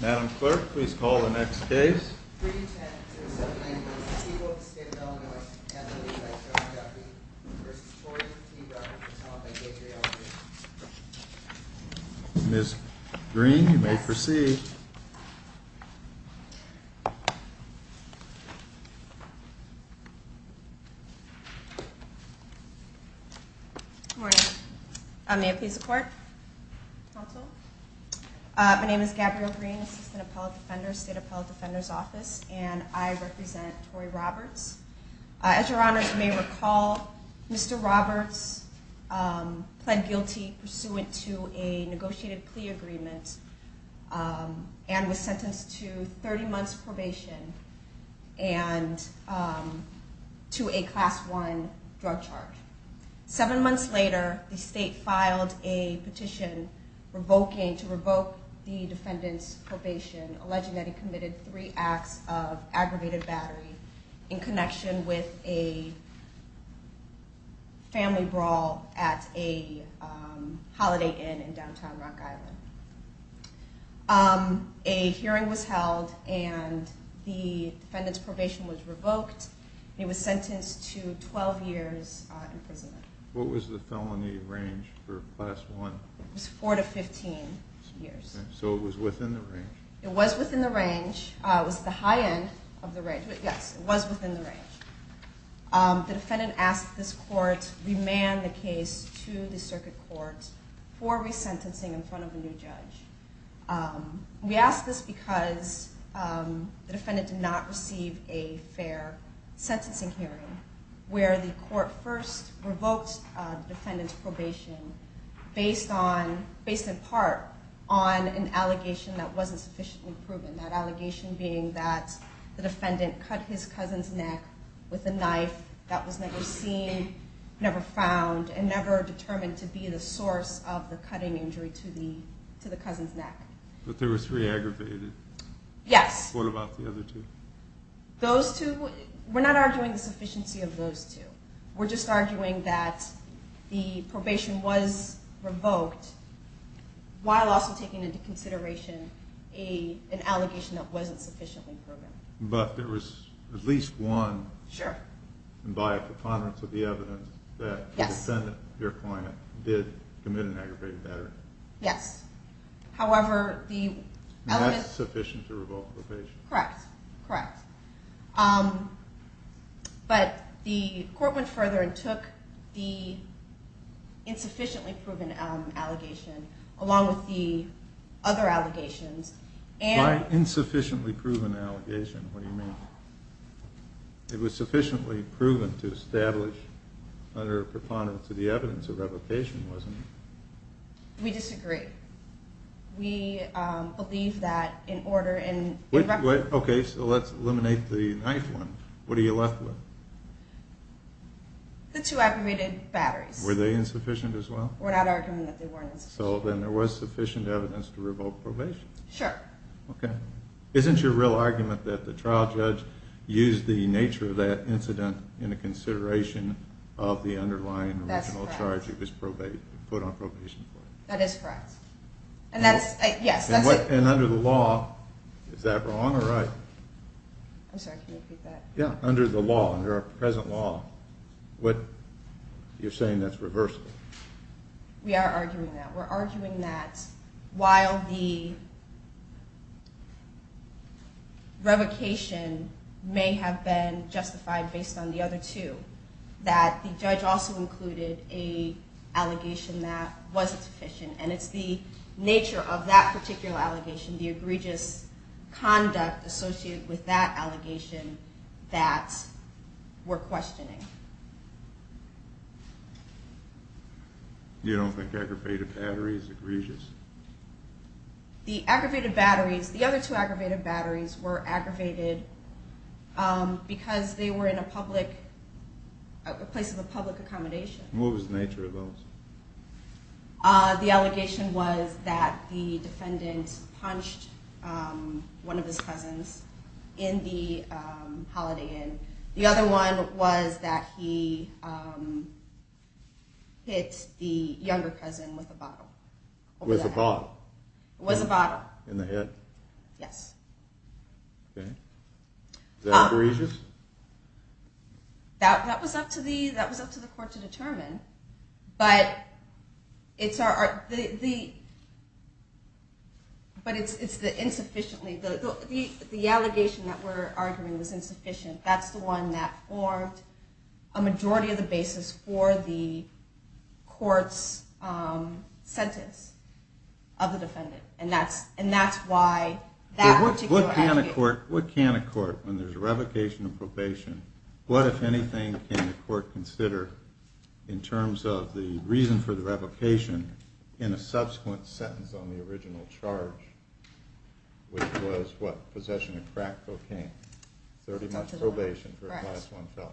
Madam Clerk, please call the next case. Ms. Green, you may proceed. Good morning. May I please have support? Counsel. My name is Gabrielle Green, Assistant Appellate Defender, State Appellate Defender's Office, and I represent Tory Roberts. As your honors may recall, Mr. Roberts pled guilty pursuant to a negotiated plea agreement and was sentenced to 30 months probation and to a Class I drug charge. Seven months later, the state filed a petition revoking, to revoke the defendant's probation, alleging that he committed three acts of aggravated battery in connection with a family brawl at a holiday inn in downtown Rock Island. A hearing was held and the defendant's probation was revoked and he was sentenced to 12 years imprisonment. What was the felony range for Class I? It was 4 to 15 years. So it was within the range? It was within the range. It was the high end of the range. Yes, it was within the range. The defendant asked this court to remand the case to the circuit court for resentencing in front of a new judge. We asked this because the defendant did not receive a fair sentencing hearing where the court first revoked the defendant's probation based on, based in part, on an allegation that wasn't sufficiently proven. That allegation being that the defendant cut his cousin's neck with a knife that was never seen, never found, and never determined to be the source of the cutting injury to the cousin's neck. But there were three aggravated? Yes. What about the other two? Those two, we're not arguing the sufficiency of those two. We're just arguing that the probation was revoked while also taking into consideration an allegation that wasn't sufficiently proven. But there was at least one. Sure. And by a preponderance of the evidence that the defendant, your client, did commit an aggravated battery. Yes. However, the element... That's sufficient to revoke probation. Correct, correct. But the court went further and took the insufficiently proven allegation along with the other allegations and... By insufficiently proven allegation, what do you mean? It was sufficiently proven to establish under a preponderance of the evidence a revocation wasn't it? We disagree. We believe that in order... Okay, so let's eliminate the ninth one. What are you left with? The two aggravated batteries. Were they insufficient as well? We're not arguing that they weren't insufficient. So then there was sufficient evidence to revoke probation? Sure. Okay. Isn't your real argument that the trial judge used the nature of that incident in consideration of the underlying original charge that was put on probation? That is correct. And that's, yes, that's... And under the law, is that wrong or right? I'm sorry, can you repeat that? Yeah, under the law, under our present law, you're saying that's reversible? We are arguing that. We're arguing that while the revocation may have been justified based on the other two, that the judge also included an allegation that wasn't sufficient. And it's the nature of that particular allegation, the egregious conduct associated with that allegation that we're questioning. You don't think aggravated battery is egregious? The aggravated batteries, the other two aggravated batteries were aggravated because they were in a public, a place of a public accommodation. What was the nature of those? The allegation was that the defendant punched one of his cousins in the Holiday Inn. The other one was that he hit the younger cousin with a bottle. With a bottle? It was a bottle. In the head? Yes. Okay. Is that egregious? That was up to the court to determine. But it's the insufficiently, the allegation that we're arguing was insufficient. That's the one that formed a majority of the basis for the court's sentence of the defendant. And that's why that particular allegation. What can a court, when there's a revocation of probation, what, if anything, can the court consider in terms of the reason for the revocation in a subsequent sentence on the original charge? Which was what? Possession of crack cocaine. 30 months probation for a class one felon.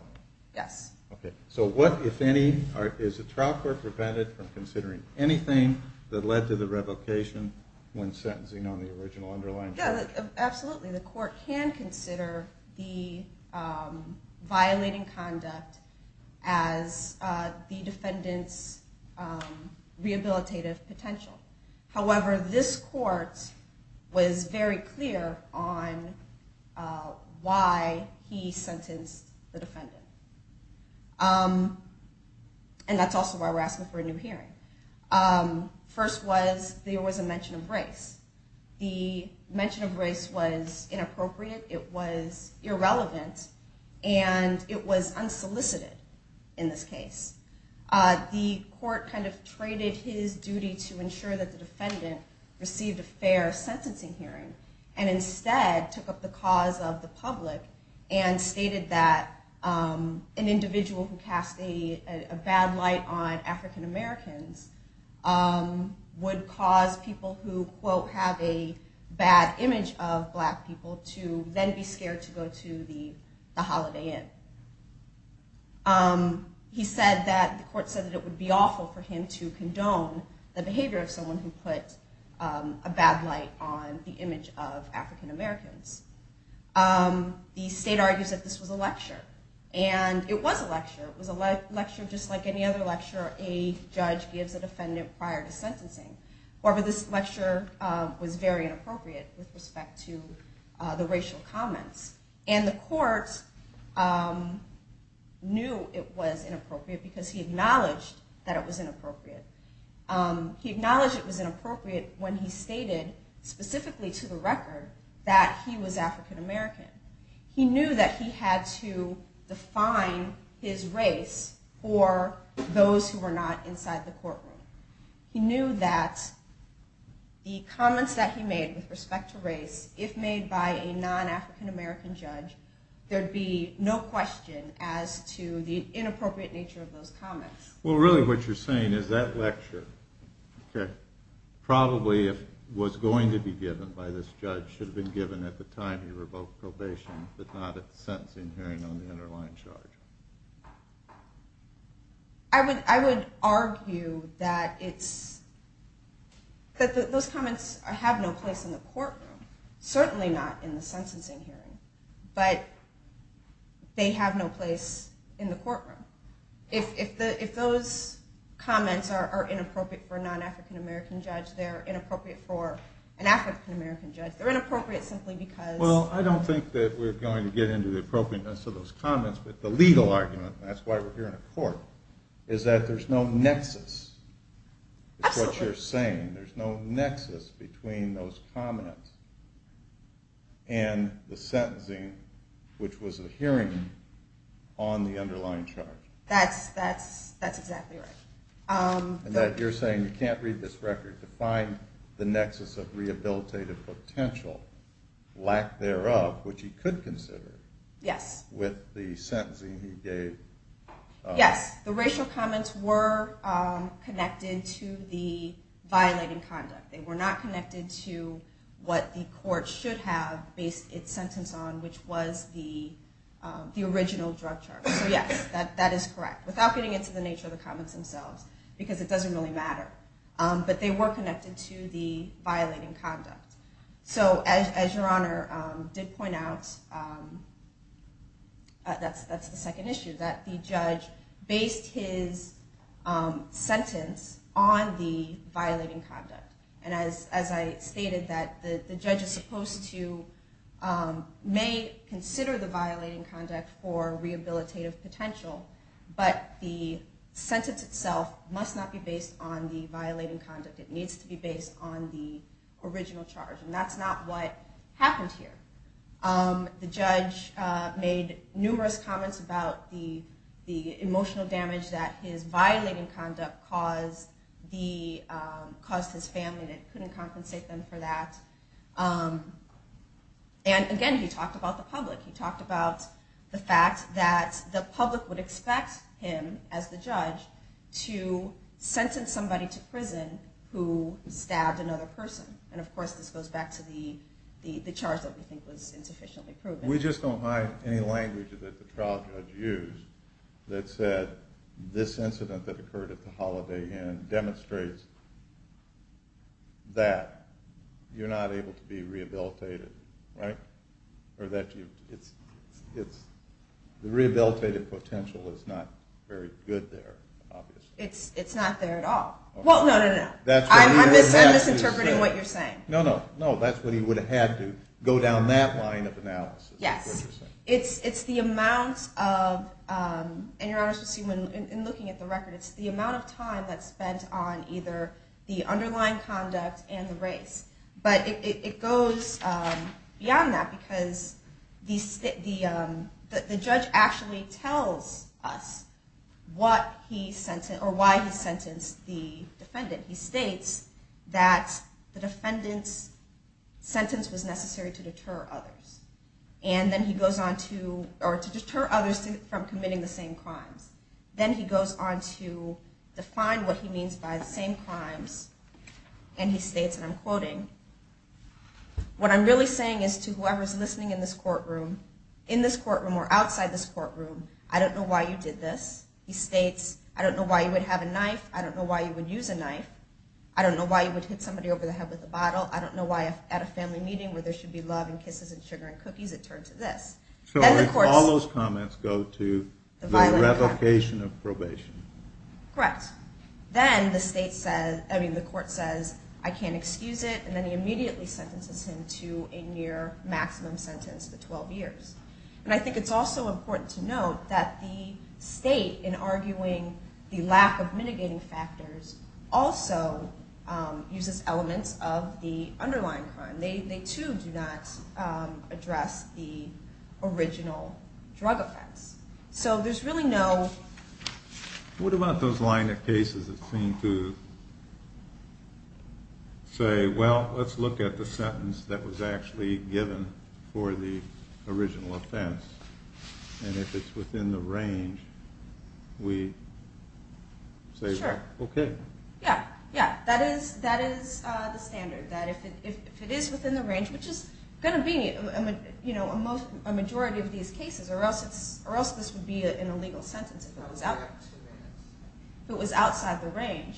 Yes. Okay. So what, if any, is the trial court prevented from considering anything that led to the revocation when sentencing on the original underlying charge? Absolutely. The court can consider the violating conduct as the defendant's rehabilitative potential. However, this court was very clear on why he sentenced the defendant. And that's also why we're asking for a new hearing. First was, there was a mention of race. The mention of race was inappropriate, it was irrelevant, and it was unsolicited in this case. The court kind of traded his duty to ensure that the defendant received a fair sentencing hearing. And instead took up the cause of the public and stated that an individual who cast a bad light on African Americans would cause people who, quote, have a bad image of black people to then be scared to go to the Holiday Inn. He said that, the court said that it would be awful for him to condone the behavior of someone who put a bad light on the image of African Americans. The state argues that this was a lecture. And it was a lecture. It was a lecture just like any other lecture a judge gives a defendant prior to sentencing. However, this lecture was very inappropriate with respect to the racial comments. And the court knew it was inappropriate because he acknowledged that it was inappropriate. He acknowledged it was inappropriate when he stated, specifically to the record, that he was African American. He knew that he had to define his race for those who were not inside the courtroom. He knew that the comments that he made with respect to race, if made by a non-African American judge, there would be no question as to the inappropriate nature of those comments. Well, really what you're saying is that lecture probably was going to be given by this judge, should have been given at the time he revoked probation, but not at the sentencing hearing on the underlying charge. I would argue that those comments have no place in the courtroom. Certainly not in the sentencing hearing. But they have no place in the courtroom. If those comments are inappropriate for a non-African American judge, they're inappropriate for an African American judge. They're inappropriate simply because... Well, I don't think that we're going to get into the appropriateness of those comments, but the legal argument, and that's why we're here in a court, is that there's no nexus. It's what you're saying. There's no nexus between those comments and the sentencing, which was a hearing on the underlying charge. That's exactly right. And that you're saying you can't read this record to find the nexus of rehabilitative potential, lack thereof, which he could consider with the sentencing he gave. Yes, the racial comments were connected to the violating conduct. They were not connected to what the court should have based its sentence on, which was the original drug charge. So yes, that is correct. Without getting into the nature of the comments themselves, because it doesn't really matter. But they were connected to the violating conduct. So as Your Honor did point out, that's the second issue, that the judge based his sentence on the violating conduct. And as I stated, the judge may consider the violating conduct for rehabilitative potential, but the sentence itself must not be based on the violating conduct. It needs to be based on the original charge, and that's not what happened here. The judge made numerous comments about the emotional damage that his violating conduct caused his family, and it couldn't compensate them for that. And again, he talked about the public. He talked about the fact that the public would expect him, as the judge, to sentence somebody to prison who stabbed another person. And of course, this goes back to the charge that we think was insufficiently proven. We just don't find any language that the trial judge used that said this incident that occurred at the Holiday Inn demonstrates that you're not able to be rehabilitated. Or that the rehabilitative potential is not very good there, obviously. It's not there at all. Well, no, no, no. I'm misinterpreting what you're saying. No, no. That's what he would have had to go down that line of analysis. Yes. It's the amount of time that's spent on either the underlying conduct and the race. But it goes beyond that, because the judge actually tells us why he sentenced the defendant. He states that the defendant's sentence was necessary to deter others from committing the same crimes. Then he goes on to define what he means by the same crimes, and he states, and I'm quoting, what I'm really saying is to whoever's listening in this courtroom, in this courtroom or outside this courtroom, I don't know why you did this. He states, I don't know why you would have a knife. I don't know why you would use a knife. I don't know why you would hit somebody over the head with a bottle. I don't know why at a family meeting where there should be love and kisses and sugar and cookies, it turned to this. So all those comments go to the revocation of probation. Correct. Then the court says, I can't excuse it, and then he immediately sentences him to a near maximum sentence of 12 years. And I think it's also important to note that the state, in arguing the lack of mitigating factors, also uses elements of the underlying crime. They too do not address the original drug offense. So there's really no... What about those line of cases that seem to say, well, let's look at the sentence that was actually given for the original offense, and if it's within the range, we say, well, okay. Yeah, that is the standard, that if it is within the range, which is going to be a majority of these cases, or else this would be an illegal sentence if it was outside the range.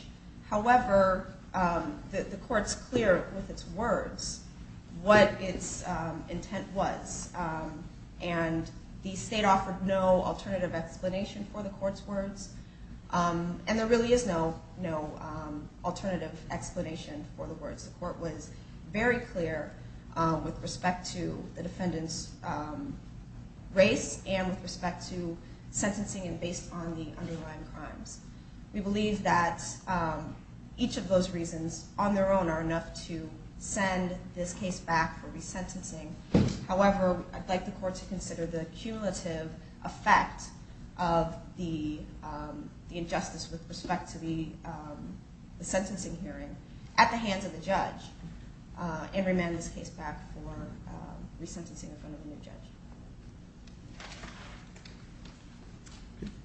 However, the court's clear with its words what its intent was, and the state offered no alternative explanation for the court's words. And there really is no alternative explanation for the words. The court was very clear with respect to the defendant's race and with respect to sentencing and based on the underlying crimes. We believe that each of those reasons on their own are enough to send this case back for resentencing. However, I'd like the court to consider the cumulative effect of the injustice with respect to the sentencing hearing at the hands of the judge and remand this case back for resentencing in front of a new judge.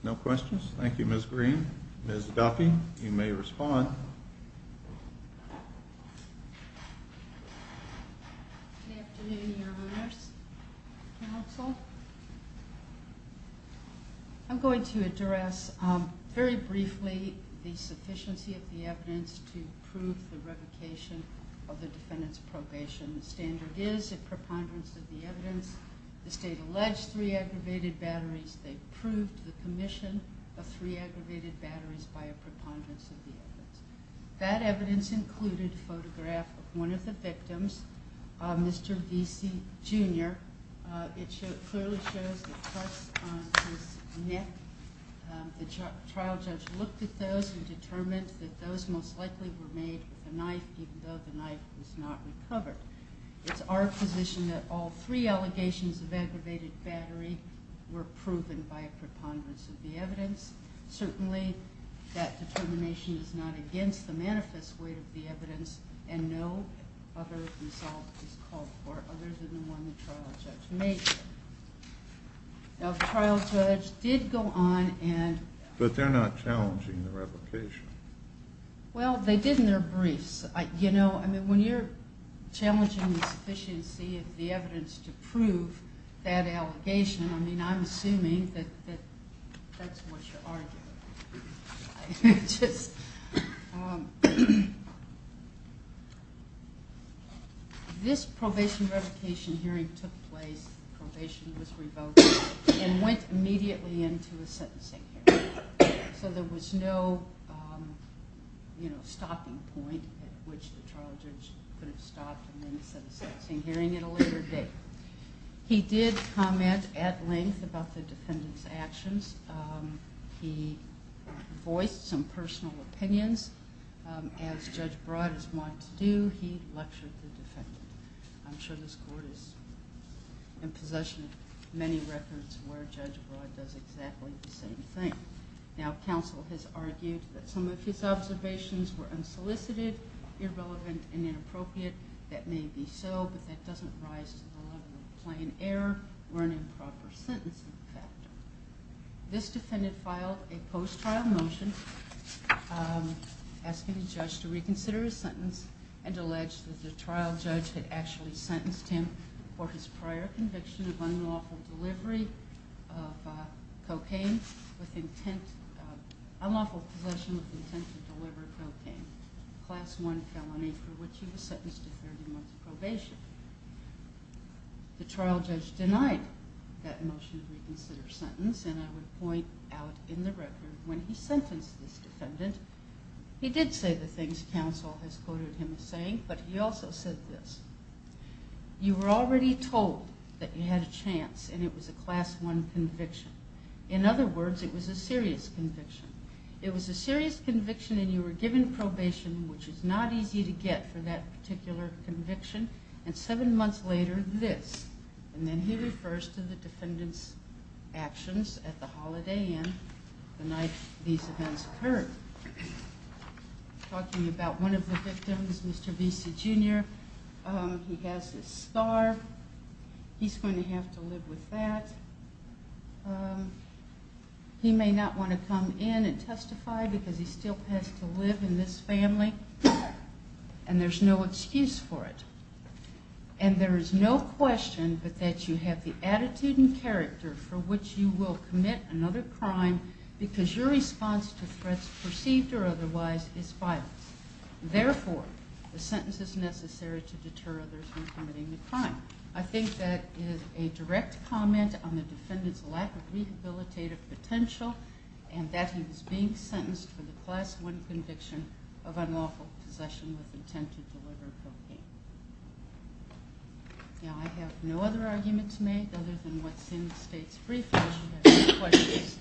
No questions? Thank you, Ms. Green. Ms. Duffy, you may respond. Good afternoon, Your Honors. Counsel. I'm going to address very briefly the sufficiency of the evidence to prove the revocation of the defendant's probation. The standard is a preponderance of the evidence. The state alleged three aggravated batteries. They proved the commission of three aggravated batteries by a preponderance of the evidence. That evidence included a photograph of one of the victims, Mr. Vesey, Jr. It clearly shows the cuts on his neck. The trial judge looked at those and determined that those most likely were made with a knife, even though the knife was not recovered. It's our position that all three allegations of aggravated battery were proven by a preponderance of the evidence. Certainly, that determination is not against the manifest weight of the evidence and no other result is called for other than the one the trial judge made. Now, the trial judge did go on and... But they're not challenging the revocation. Well, they did in their briefs. When you're challenging the sufficiency of the evidence to prove that allegation, I'm assuming that that's what you're arguing. This probation revocation hearing took place, probation was revoked, and went immediately into a sentencing hearing. So there was no stopping point at which the trial judge could have stopped the sentencing hearing at a later date. He did comment at length about the defendant's actions. He voiced some personal opinions. As Judge Broad has wanted to do, he lectured the defendant. I'm sure this court is in possession of many records where Judge Broad does exactly the same thing. Now, counsel has argued that some of his observations were unsolicited, irrelevant, and inappropriate. That may be so, but that doesn't rise to the level of plain error or an improper sentencing factor. This defendant filed a post-trial motion asking the judge to reconsider his sentence and alleged that the trial judge had actually sentenced him for his prior conviction of unlawful possession of intent to deliver cocaine, a Class I felony for which he was sentenced to 30 months probation. The trial judge denied that motion to reconsider sentence, and I would point out in the record when he sentenced this defendant, he did say the things counsel has quoted him as saying, but he also said this. You were already told that you had a chance, and it was a Class I conviction. In other words, it was a serious conviction. It was a serious conviction, and you were given probation, which is not easy to get for that particular conviction, and seven months later, this. And then he refers to the defendant's actions at the Holiday Inn the night these events occurred. Talking about one of the victims, Mr. Visa, Jr., he has this scar. He's going to have to live with that. He may not want to come in and testify because he still has to live in this family, and there's no excuse for it. And there is no question but that you have the attitude and character for which you will commit another crime because your response to threats perceived or otherwise is violence. Therefore, the sentence is necessary to deter others from committing the crime. I think that is a direct comment on the defendant's lack of rehabilitative potential and that he was being sentenced for the Class I conviction of unlawful possession with intent to deliver cocaine. Now, I have no other arguments made other than what's in the state's briefcase.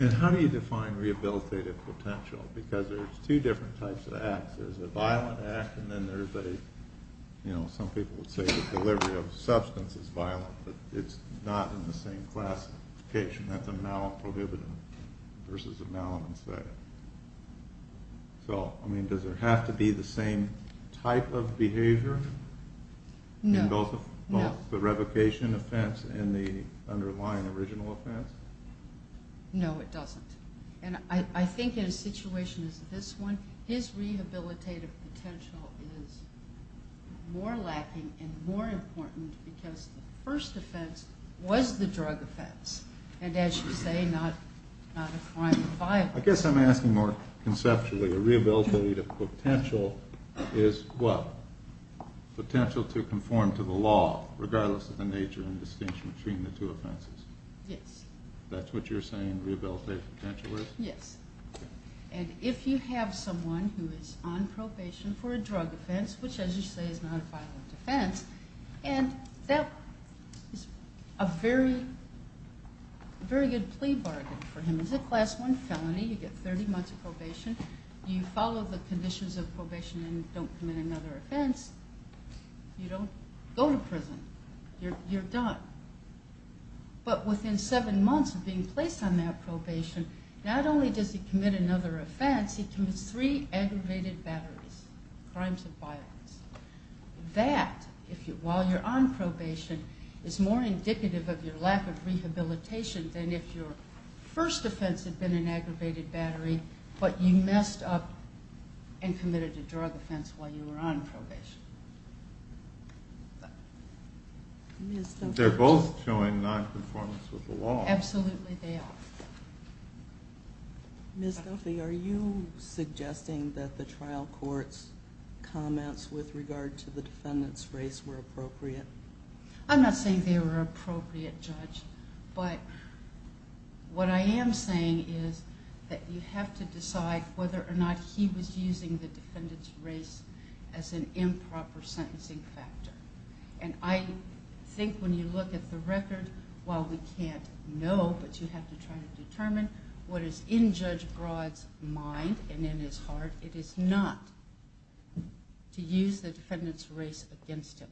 And how do you define rehabilitative potential? Because there's two different types of acts. There's a violent act, and then there's a, you know, some people would say the delivery of substance is violent, but it's not in the same classification. That's a malprohibitive versus a malincide. So, I mean, does there have to be the same type of behavior in both the revocation offense and the underlying original offense? No, it doesn't. And I think in a situation as this one, his rehabilitative potential is more lacking and more important because the first offense was the drug offense, and as you say, not a crime of violence. I guess I'm asking more conceptually. A rehabilitative potential is what? Potential to conform to the law, regardless of the nature and distinction between the two offenses. Yes. That's what you're saying, rehabilitative potential is? Yes. And if you have someone who is on probation for a drug offense, which, as you say, is not a violent offense, and that is a very good plea bargain for him. It's a class one felony. You get 30 months of probation. You follow the conditions of probation and don't commit another offense. You don't go to prison. You're done. But within seven months of being placed on that probation, not only does he commit another offense, he commits three aggravated batteries, crimes of violence. That, while you're on probation, is more indicative of your lack of rehabilitation than if your first offense had been an aggravated battery, but you messed up and committed a drug offense while you were on probation. They're both showing nonconformance with the law. Absolutely they are. Ms. Duffy, are you suggesting that the trial court's comments with regard to the defendant's race were appropriate? I'm not saying they were appropriate, Judge, but what I am saying is that you have to decide whether or not he was using the defendant's race as an input as a proper sentencing factor. And I think when you look at the record, while we can't know, but you have to try to determine what is in Judge Broad's mind and in his heart, it is not to use the defendant's race against him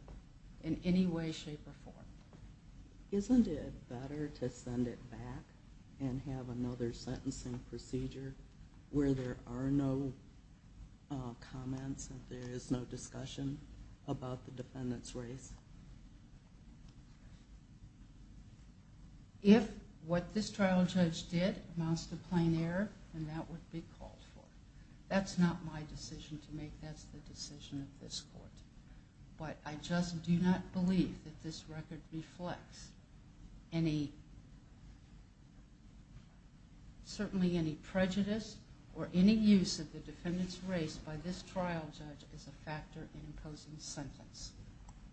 in any way, shape, or form. Isn't it better to send it back and have another sentencing procedure where there are no comments and there is no discussion about the defendant's race? If what this trial judge did amounts to plain error, then that would be called for. That's not my decision to make. That's the decision of this court. But I just do not believe that this record reflects certainly any prejudice or any use of the defendant's race by this trial judge as a factor in imposing the sentence.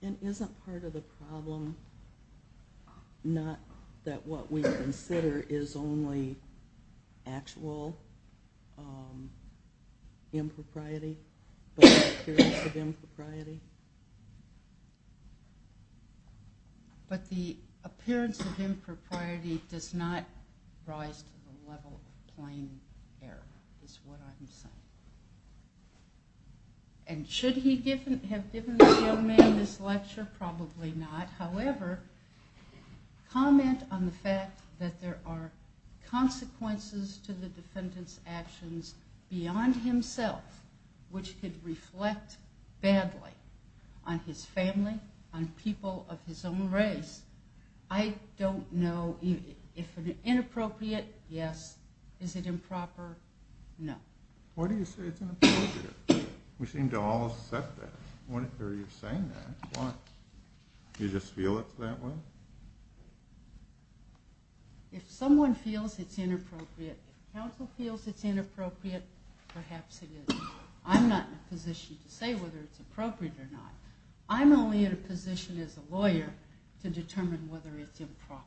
And isn't part of the problem not that what we consider is only actual impropriety, but the appearance of impropriety? But the appearance of impropriety does not rise to the level of plain error, is what I'm saying. And should he have given this young man this lecture? Probably not. However, comment on the fact that there are consequences to the defendant's actions beyond himself, which could reflect badly on his family, on people of his own race. I don't know if it's inappropriate. Yes. Is it improper? No. Why do you say it's inappropriate? We seem to all accept that. Why are you saying that? Why? Do you just feel it that way? If someone feels it's inappropriate, if counsel feels it's inappropriate, perhaps it is. I'm not in a position to say whether it's appropriate or not. I'm only in a position as a lawyer to determine whether it's improper.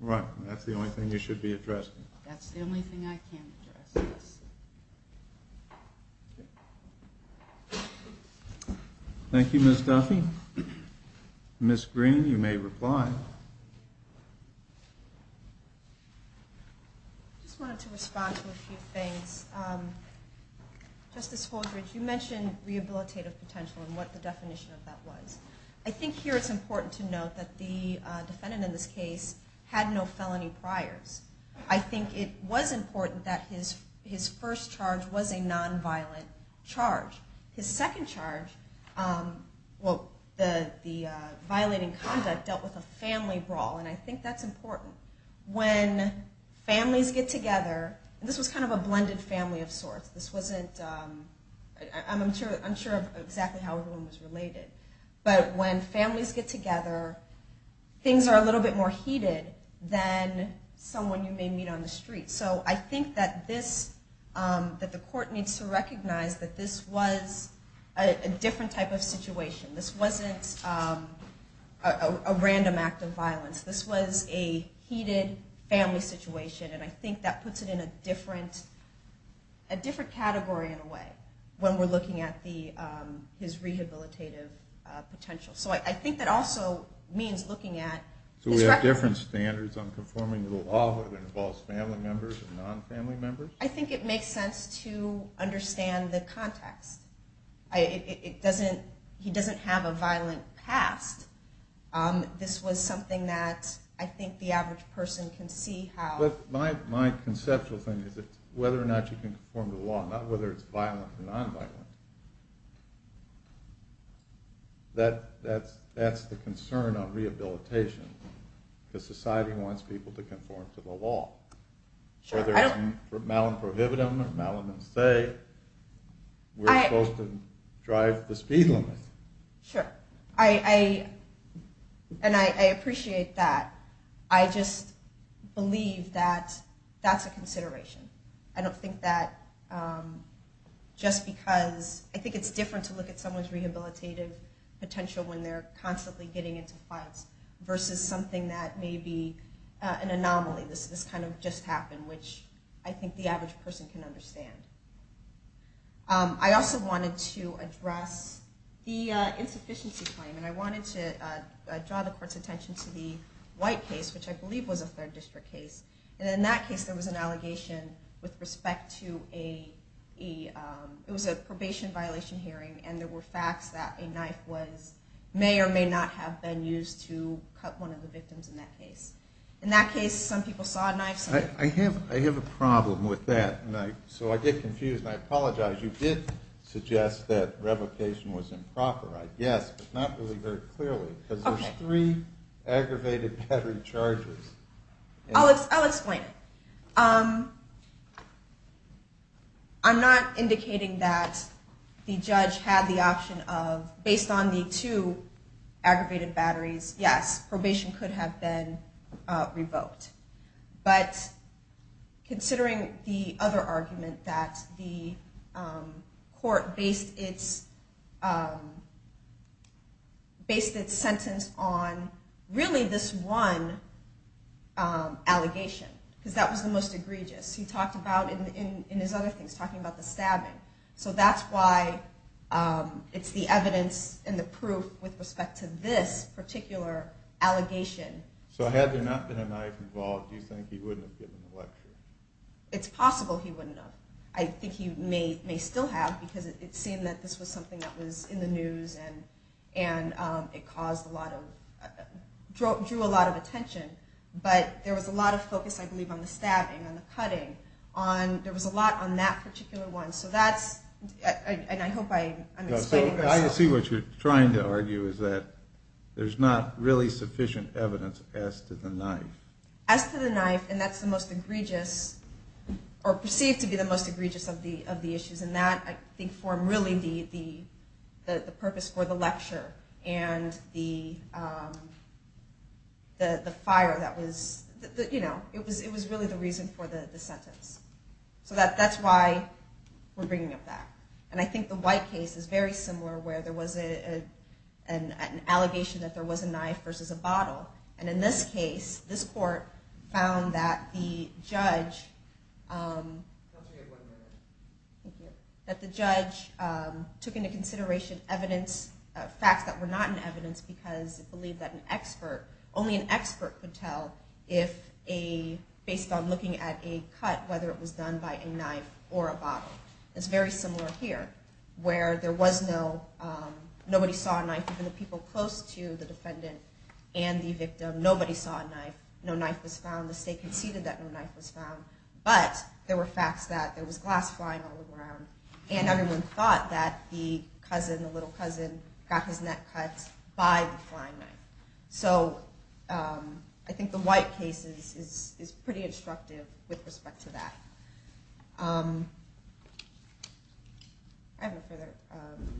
Right. And that's the only thing you should be addressing. That's the only thing I can address. Yes. Thank you, Ms. Duffy. Ms. Green, you may reply. I just wanted to respond to a few things. Justice Holdred, you mentioned rehabilitative potential and what the definition of that was. I think here it's important to note that the defendant in this case had no felony priors. I think it was important that his first charge was a nonviolent charge. His second charge, the violating conduct, dealt with a family brawl, and I think that's important. When families get together, and this was kind of a blended family of sorts. I'm sure of exactly how everyone was related. But when families get together, things are a little bit more heated than someone you may meet on the street. So I think that the court needs to recognize that this was a different type of situation. This wasn't a random act of violence. This was a heated family situation, and I think that puts it in a different category in a way when we're looking at his rehabilitative potential. So I think that also means looking at... So we have different standards on conforming to the law that involves family members and non-family members? I think it makes sense to understand the context. He doesn't have a violent past. This was something that I think the average person can see how... My conceptual thing is whether or not you can conform to the law. Not whether it's violent or non-violent. That's the concern on rehabilitation. Because society wants people to conform to the law. Whether it's mal and prohibitive or mal and unsay, we're supposed to drive the speed limit. Sure. And I appreciate that. I just believe that that's a consideration. I don't think that just because... I think it's different to look at someone's rehabilitative potential when they're constantly getting into fights versus something that may be an anomaly. This kind of just happened, which I think the average person can understand. I also wanted to address the insufficiency claim. I wanted to draw the court's attention to the White case, which I believe was a third district case. In that case, there was an allegation with respect to a... It was a probation violation hearing, and there were facts that a knife was... May or may not have been used to cut one of the victims in that case. In that case, some people saw a knife. I have a problem with that. I get confused, and I apologize. You did suggest that revocation was improper, I guess, but not really very clearly, because there's three aggravated battery charges. I'll explain it. I'm not indicating that the judge had the option of... Based on the two aggravated batteries, yes, probation could have been revoked. But considering the other argument that the court based its sentence on really this one allegation, because that was the most egregious. He talked about, in his other things, talking about the stabbing. So that's why it's the evidence and the proof with respect to this particular allegation. So had there not been a knife involved, do you think he wouldn't have given the lecture? It's possible he wouldn't have. I think he may still have, because it seemed that this was something that was in the news, and it caused a lot of... drew a lot of attention. But there was a lot of focus, I believe, on the stabbing, on the cutting. There was a lot on that particular one. So that's... and I hope I'm explaining myself. I see what you're trying to argue is that there's not really sufficient evidence as to the knife. As to the knife, and that's the most egregious, or perceived to be the most egregious of the issues, and that, I think, formed really the purpose for the lecture and the fire that was... It was really the reason for the sentence. So that's why we're bringing up that. And I think the White case is very similar, where there was an allegation that there was a knife versus a bottle. And in this case, this court found that the judge... I'll tell you in one minute. Thank you. That the judge took into consideration evidence, facts that were not in evidence, because it believed that an expert, only an expert could tell if a... based on looking at a cut, whether it was done by a knife or a bottle. It's very similar here, where there was no... Nobody saw a knife, even the people close to the defendant and the victim. Nobody saw a knife. No knife was found. The state conceded that no knife was found. But there were facts that there was glass flying all around, and everyone thought that the cousin, the little cousin, got his neck cut by the flying knife. So I think the White case is pretty instructive with respect to that. I have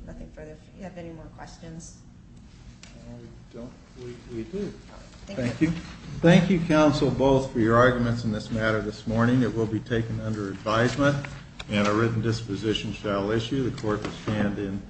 nothing further. Do you have any more questions? I don't. We do. Thank you. Thank you, counsel, both, for your arguments in this matter this morning. It will be taken under advisement, and a written disposition shall issue. The court will stand in...